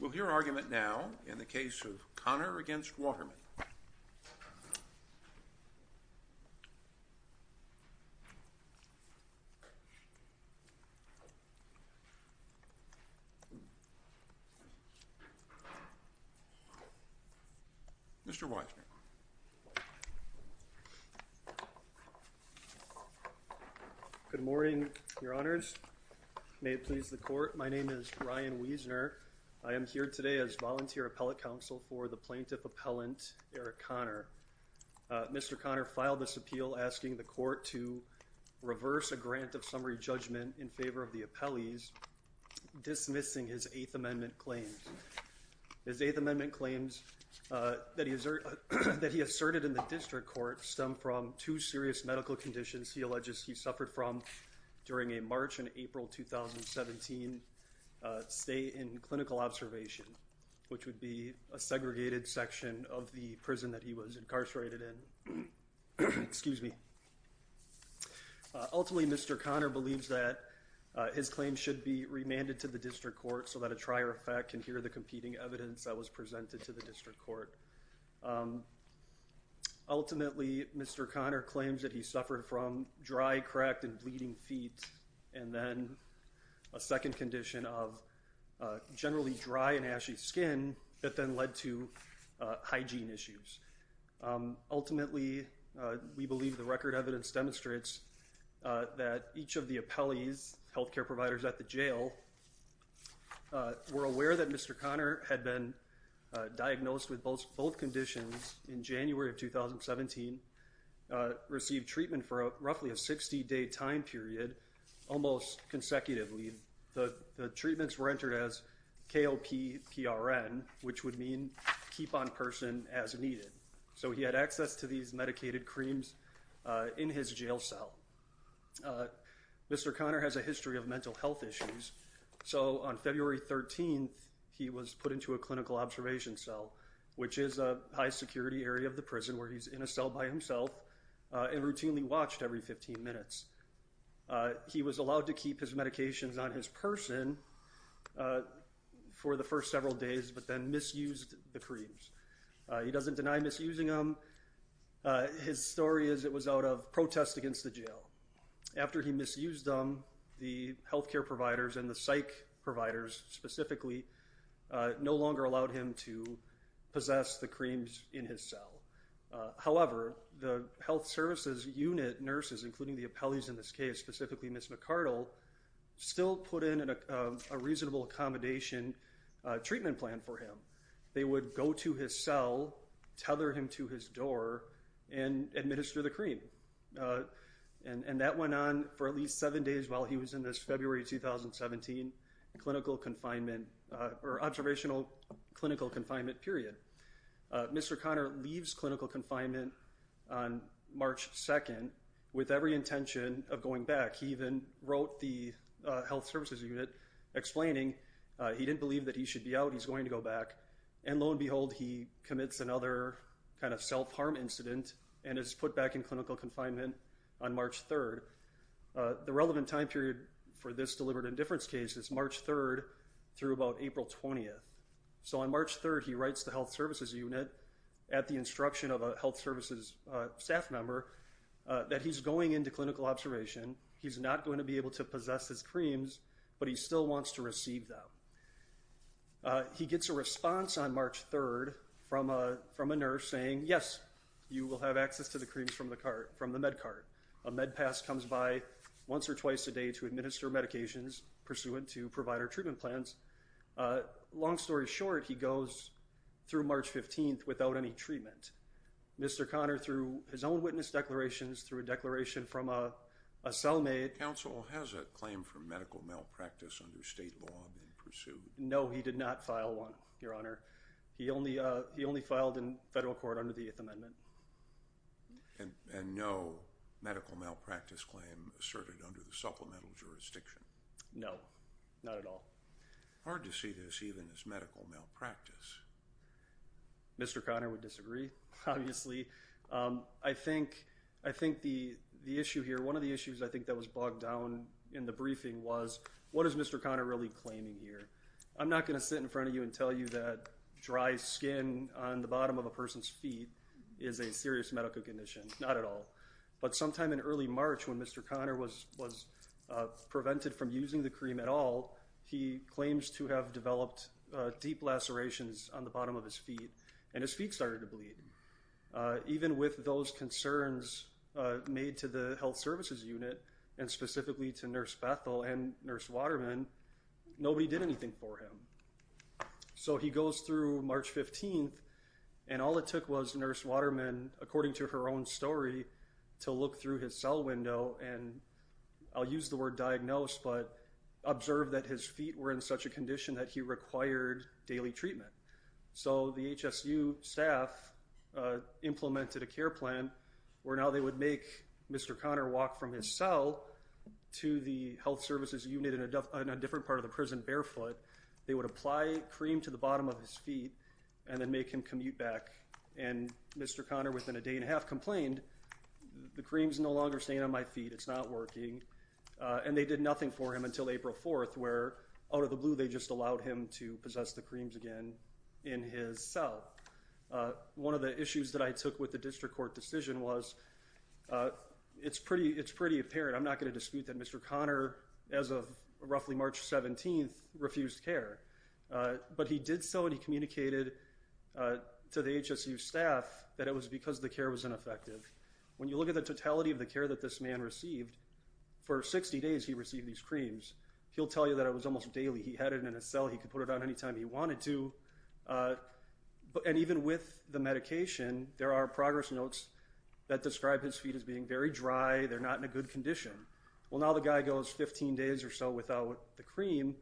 We'll hear argument now in the case of Conner v. Waterman. Mr. Wiseman. Good morning, your honors. May it please the court. My name is Ryan Wiesner. I am here today as volunteer appellate counsel for the plaintiff appellant Eric Conner. Mr. Conner filed this appeal asking the court to reverse a grant of summary judgment in favor of the appellees dismissing his Eighth Amendment claims. His Eighth Amendment claims that he asserted in the district court stem from two serious medical conditions he alleges he suffered from during a March and April 2017 stay in clinical observation, which would be a segregated section of the prison that he was incarcerated in. Excuse me. Ultimately, Mr. Conner believes that his claims should be remanded to the district court so that a trier of fact can hear the competing evidence that was presented to the district court. Ultimately, Mr. Conner claims that he suffered from dry, cracked and bleeding feet and then a second condition of generally dry and ashy skin that then led to hygiene issues. Ultimately, we believe the record evidence demonstrates that each of the appellees health care providers at the jail were aware that Mr. Conner had been diagnosed with both both conditions in January of 2017 received treatment for roughly a 60 day time period. Almost consecutively, the treatments were entered as KLP PRN, which would mean keep on person as needed. So he had access to these medicated creams in his jail cell. Mr. Conner has a history of mental health issues. So on February 13th, he was put into a clinical observation cell, which is a high security area of the prison where he's in a cell by himself and routinely watched every 15 minutes. He was allowed to keep his medications on his person for the first several days, but then misused the creams. He doesn't deny misusing them. His story is it was out of protest against the jail. After he misused them, the health care providers and the psych providers specifically no longer allowed him to possess the creams in his cell. However, the health services unit nurses, including the appellees in this case, specifically Miss McCardle, still put in a reasonable accommodation treatment plan for him. They would go to his cell, tether him to his door and administer the cream. And that went on for at least seven days while he was in this February 2017 clinical confinement or observational clinical confinement period. Mr. Conner leaves clinical confinement on March 2nd with every intention of going back. He even wrote the health services unit explaining he didn't believe that he should be out. He's going to go back. And lo and behold, he commits another kind of self-harm incident and is put back in clinical confinement on March 3rd. The relevant time period for this deliberate indifference case is March 3rd through about April 20th. So on March 3rd, he writes the health services unit at the instruction of a health services staff member that he's going into clinical observation. He's not going to be able to possess his creams, but he still wants to receive them. He gets a response on March 3rd from a nurse saying, yes, you will have access to the creams from the med cart. A med pass comes by once or twice a day to administer medications pursuant to provider treatment plans. Long story short, he goes through March 15th without any treatment. Mr. Conner, through his own witness declarations, through a declaration from a cellmate... Counsel, has a claim for medical malpractice under state law been pursued? No, he did not file one, Your Honor. He only filed in federal court under the Eighth Amendment. And no medical malpractice claim asserted under the supplemental jurisdiction? No, not at all. Hard to see this even as medical malpractice. Mr. Conner would disagree, obviously. I think the issue here, one of the issues I think that was bogged down in the briefing was, what is Mr. Conner really claiming here? I'm not going to sit in front of you and tell you that dry skin on the bottom of a person's feet is a serious medical condition. Not at all. But sometime in early March, when Mr. Conner was prevented from using the cream at all, he claims to have developed deep lacerations on the bottom of his feet, and his feet started to bleed. Even with those concerns made to the health services unit, and specifically to Nurse Bethel and Nurse Waterman, nobody did anything for him. So he goes through March 15th, and all it took was Nurse Waterman, according to her own story, to look through his cell window and, I'll use the word diagnose, but observe that his feet were in such a condition that he required daily treatment. So the HSU staff implemented a care plan where now they would make Mr. Conner walk from his cell to the health services unit in a different part of the prison barefoot. They would apply cream to the bottom of his feet and then make him commute back, and Mr. Conner within a day and a half complained, the cream's no longer staying on my feet, it's not working. And they did nothing for him until April 4th where, out of the blue, they just allowed him to possess the creams again in his cell. One of the issues that I took with the district court decision was, it's pretty apparent, I'm not going to dispute that Mr. Conner, as of roughly March 17th, refused care. But he did so and he communicated to the HSU staff that it was because the care was ineffective. When you look at the totality of the care that this man received, for 60 days he received these creams. He'll tell you that it was almost daily, he had it in his cell, he could put it on any time he wanted to. And even with the medication, there are progress notes that describe his feet as being very dry, they're not in a good condition. Well now the guy goes 15 days or so without the cream,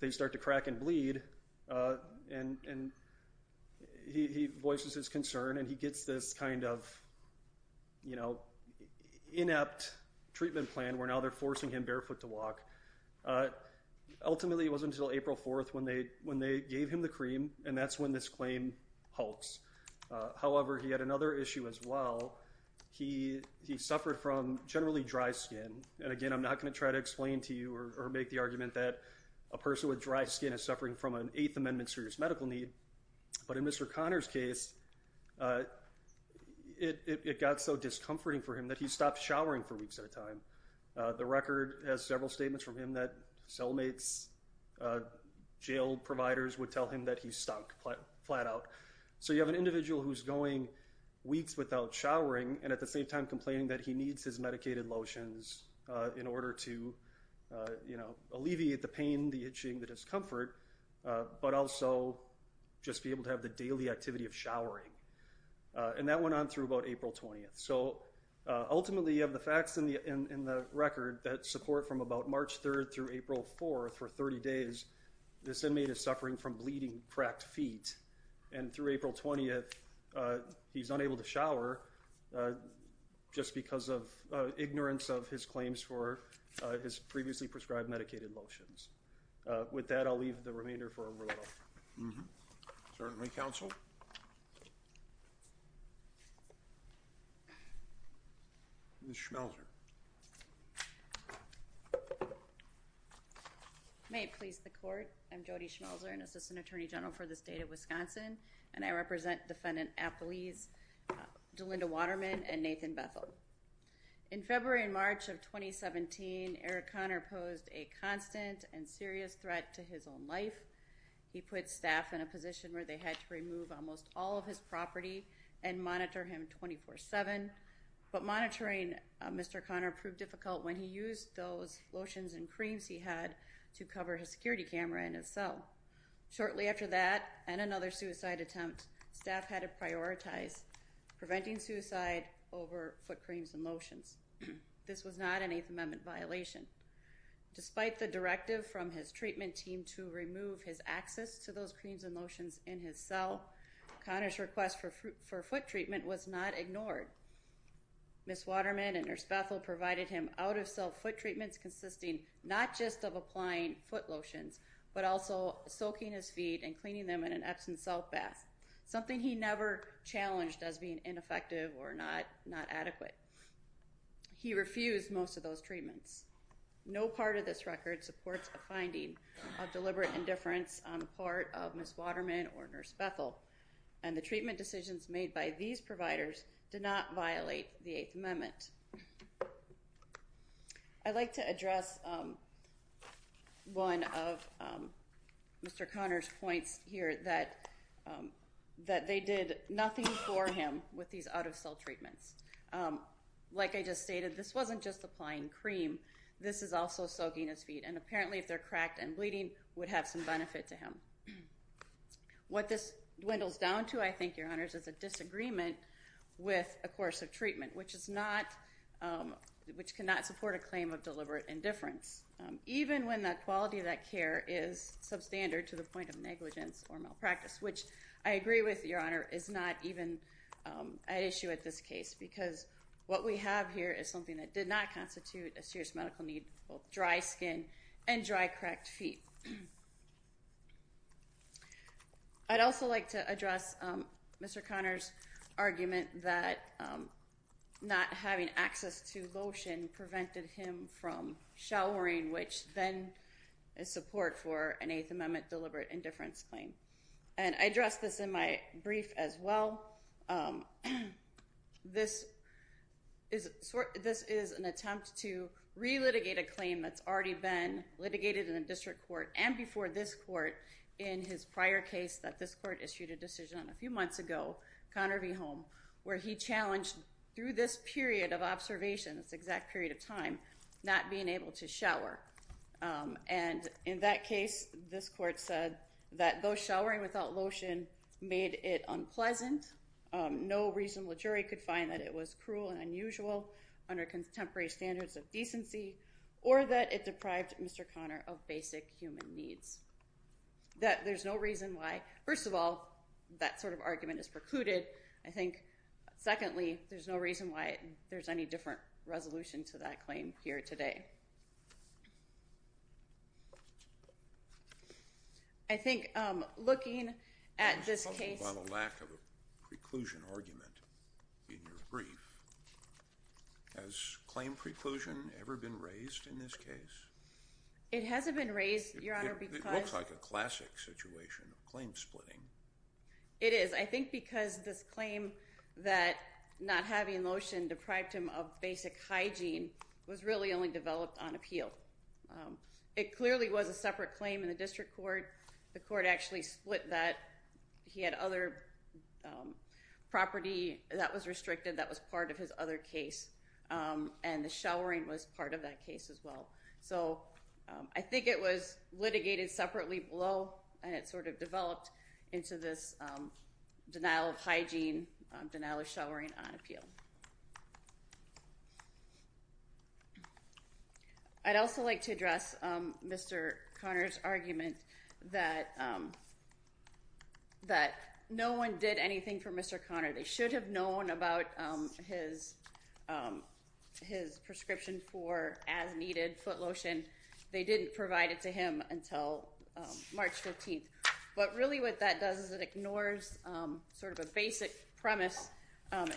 they start to crack and bleed, and he voices his concern and he gets this kind of, you know, inept treatment plan where now they're forcing him barefoot to walk. Ultimately it wasn't until April 4th when they gave him the cream and that's when this claim halts. However, he had another issue as well, he suffered from generally dry skin. And again, I'm not going to try to explain to you or make the argument that a person with dry skin is suffering from an Eighth Amendment serious medical need. But in Mr. Conner's case, it got so discomforting for him that he stopped showering for weeks at a time. The record has several statements from him that cellmates, jail providers would tell him that he stunk flat out. So you have an individual who's going weeks without showering and at the same time complaining that he needs his medicated lotions in order to, you know, alleviate the pain, the itching, the discomfort, but also just be able to have the daily activity of showering. And that went on through about April 20th. So ultimately you have the facts in the record that support from about March 3rd through April 4th for 30 days, this inmate is suffering from bleeding, cracked feet. And through April 20th, he's unable to shower just because of ignorance of his claims for his previously prescribed medicated lotions. With that, I'll leave the remainder for a vote. Certainly, counsel. Ms. Schmelzer. May it please the court. I'm Jody Schmelzer, an assistant attorney general for the state of Wisconsin. And I represent Defendant Apolise Delinda Waterman and Nathan Bethel. In February and March of 2017, Eric Conner posed a constant and serious threat to his own life. He put staff in a position where they had to remove almost all of his property and monitor him 24-7. But monitoring Mr. Conner proved difficult when he used those lotions and creams he had to cover his security camera in his cell. Shortly after that and another suicide attempt, staff had to prioritize preventing suicide over foot creams and lotions. This was not an Eighth Amendment violation. Despite the directive from his treatment team to remove his access to those creams and lotions in his cell, Conner's request for foot treatment was not ignored. Ms. Waterman and Nurse Bethel provided him out-of-cell foot treatments consisting not just of applying foot lotions, but also soaking his feet and cleaning them in an Epsom soap bath, something he never challenged as being ineffective or not adequate. He refused most of those treatments. No part of this record supports a finding of deliberate indifference on the part of Ms. Waterman or Nurse Bethel. And the treatment decisions made by these providers did not violate the Eighth Amendment. I'd like to address one of Mr. Conner's points here that they did nothing for him with these out-of-cell treatments. Like I just stated, this wasn't just applying cream. It was also soaking his feet, and apparently if they're cracked and bleeding, would have some benefit to him. What this dwindles down to, I think, Your Honors, is a disagreement with a course of treatment, which cannot support a claim of deliberate indifference, even when the quality of that care is substandard to the point of negligence or malpractice, which I agree with, Your Honor, is not even an issue at this case, because what we have here is something that did not constitute a serious medical need, both dry skin and dry, cracked feet. I'd also like to address Mr. Conner's argument that not having access to lotion prevented him from showering, which then is support for an Eighth Amendment deliberate indifference claim. And I addressed this in my brief as well. This is an attempt to re-litigate a claim that's already been litigated in the district court and before this court in his prior case that this court issued a decision on a few months ago, Conner v. Holm, where he challenged, through this period of observation, this exact period of time, not being able to shower. And in that case, this court said that though showering without lotion made it unpleasant, no reasonable jury could find that it was cruel and unusual under contemporary standards of decency, or that it deprived Mr. Conner of basic human needs. That there's no reason why, first of all, that sort of argument is precluded. I think, secondly, there's no reason why there's any different resolution to that claim here today. I think looking at this case... I was talking about a lack of a preclusion argument in your brief. Has claim preclusion ever been raised in this case? It hasn't been raised, Your Honor, because... It looks like a classic situation of claim splitting. It is. I think because this claim that not having lotion deprived him of basic hygiene was really only developed on appeal. It clearly was a separate claim in the district court. The court actually split that. He had other property that was restricted that was part of his other case. And the showering was part of that case as well. So I think it was litigated separately below, and it sort of developed into this denial of hygiene, denial of showering on appeal. I'd also like to address Mr. Conner's argument that no one did anything for Mr. Conner. They should have known about his prescription for as-needed foot lotion. They didn't provide it to him until March 14th. But really what that does is it ignores sort of a basic premise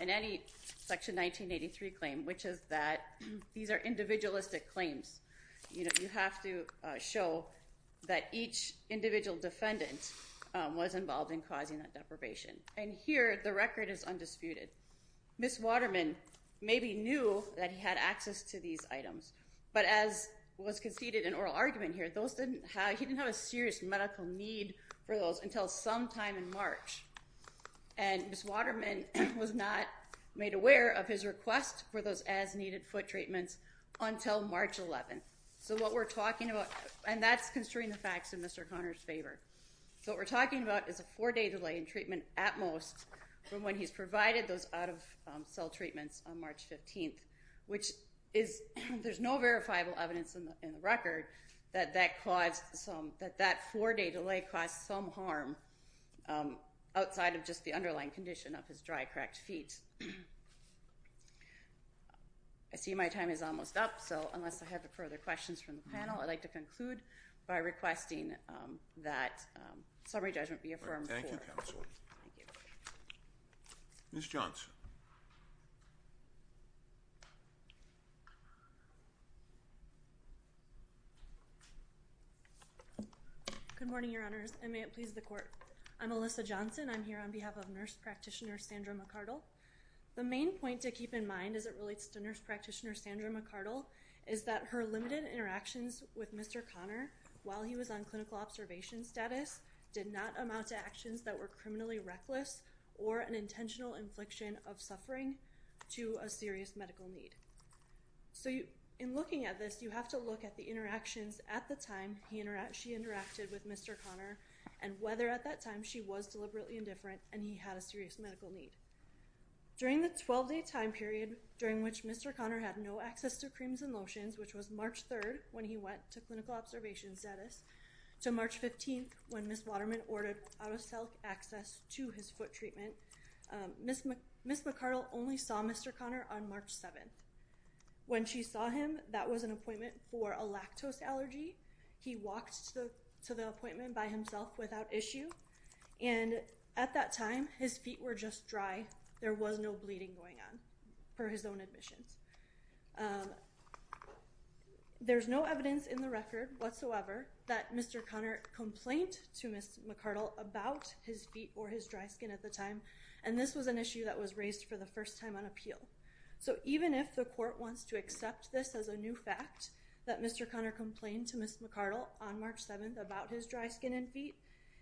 in any Section 1983 claim, which is that these are individualistic claims. You have to show that each individual defendant was involved in causing that deprivation. And here the record is undisputed. Ms. Waterman maybe knew that he had access to these items, but as was conceded in oral argument here, he didn't have a serious medical need for those until some time in March. And Ms. Waterman was not made aware of his request for those as-needed foot treatments until March 11th. So what we're talking about, and that's construing the facts in Mr. Conner's favor. So what we're talking about is a four-day delay in treatment at most from when he's provided those out-of-cell treatments on March 15th, which is, there's no verifiable evidence in the record that that caused some, that that four-day delay caused some harm outside of just the underlying condition of his dry, cracked feet. I see my time is almost up, so unless I have further questions from the panel, I'd like to conclude by requesting that summary judgment be affirmed. Thank you, Counsel. Ms. Johnson. Good morning, Your Honors, and may it please the Court. I'm Alyssa Johnson, I'm here on behalf of Nurse Practitioner Sandra McArdle. The main point to keep in mind as it relates to Nurse Practitioner Sandra McArdle is that her limited interactions with Mr. Conner while he was on clinical observation status did not amount to actions that were criminally reckless or an intentional infliction of suffering to a serious medical need. So in looking at this, you have to look at the interactions at the time she interacted with Mr. Conner and whether at that time she was deliberately indifferent and he had a serious medical need. During the 12-day time period during which Mr. Conner had no access to creams and lotions, which was March 3rd when he went to clinical observation status, to March 15th when Ms. Waterman ordered out-of-cell access to his foot treatment, Ms. McArdle only saw Mr. Conner on March 7th. When she saw him, that was an appointment for a lactose allergy. He walked to the appointment by himself without issue, and at that time his feet were just dry, there was no bleeding going on, per his own admissions. There's no evidence in the record whatsoever that Mr. Conner complained to Ms. McArdle about his feet or his dry skin at the time, and this was an issue that was raised for the first time on appeal. So even if the court wants to accept this as a new fact, that Mr. Conner complained to Ms. McArdle on March 7th about his dry skin and feet,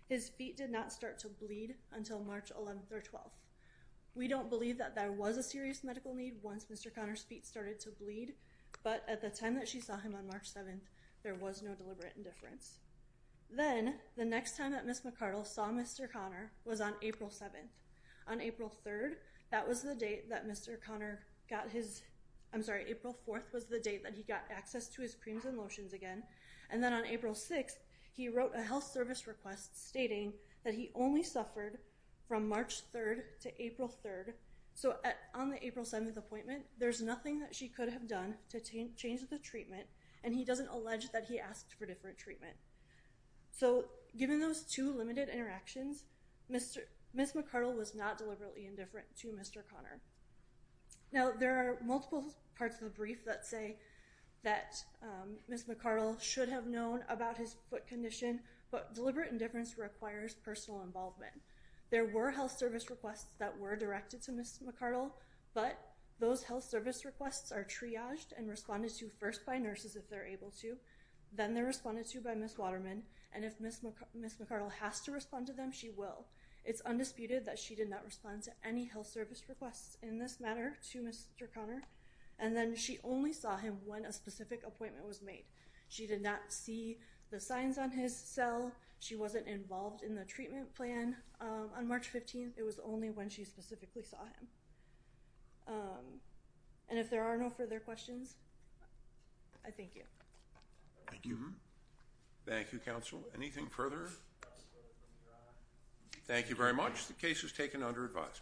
his feet did not start to bleed until March 11th or 12th. We don't believe that there was a serious medical need once Mr. Conner's feet started to bleed, but at the time that she saw him on March 7th, there was no deliberate indifference. Then, the next time that Ms. McArdle saw Mr. Conner was on April 7th. On April 3rd, that was the date that Mr. Conner got his, I'm sorry, April 4th was the date that he got access to his creams and lotions again, and then on April 6th, he wrote a health service request stating that he only suffered from March 3rd to April 3rd. So on the April 7th appointment, there's nothing that she could have done to change the treatment, and he doesn't allege that he asked for different treatment. So given those two limited interactions, Ms. McArdle was not deliberately indifferent to Mr. Conner. Now, there are multiple parts of the brief that say that Ms. McArdle should have known about his foot condition, but deliberate indifference requires personal involvement. There were health service requests that were directed to Ms. McArdle, but those health service requests are triaged and responded to first by nurses if they're able to, then they're responded to by Ms. Waterman, and if Ms. McArdle has to respond to them, she will. It's undisputed that she did not respond to any health service requests in this matter to Mr. Conner, and then she only saw him when a specific appointment was made. She did not see the signs on his cell. She wasn't involved in the treatment plan on March 15th. It was only when she specifically saw him. And if there are no further questions, I thank you. Thank you. Thank you, counsel. Anything further? Thank you very much. The case is taken under advisement.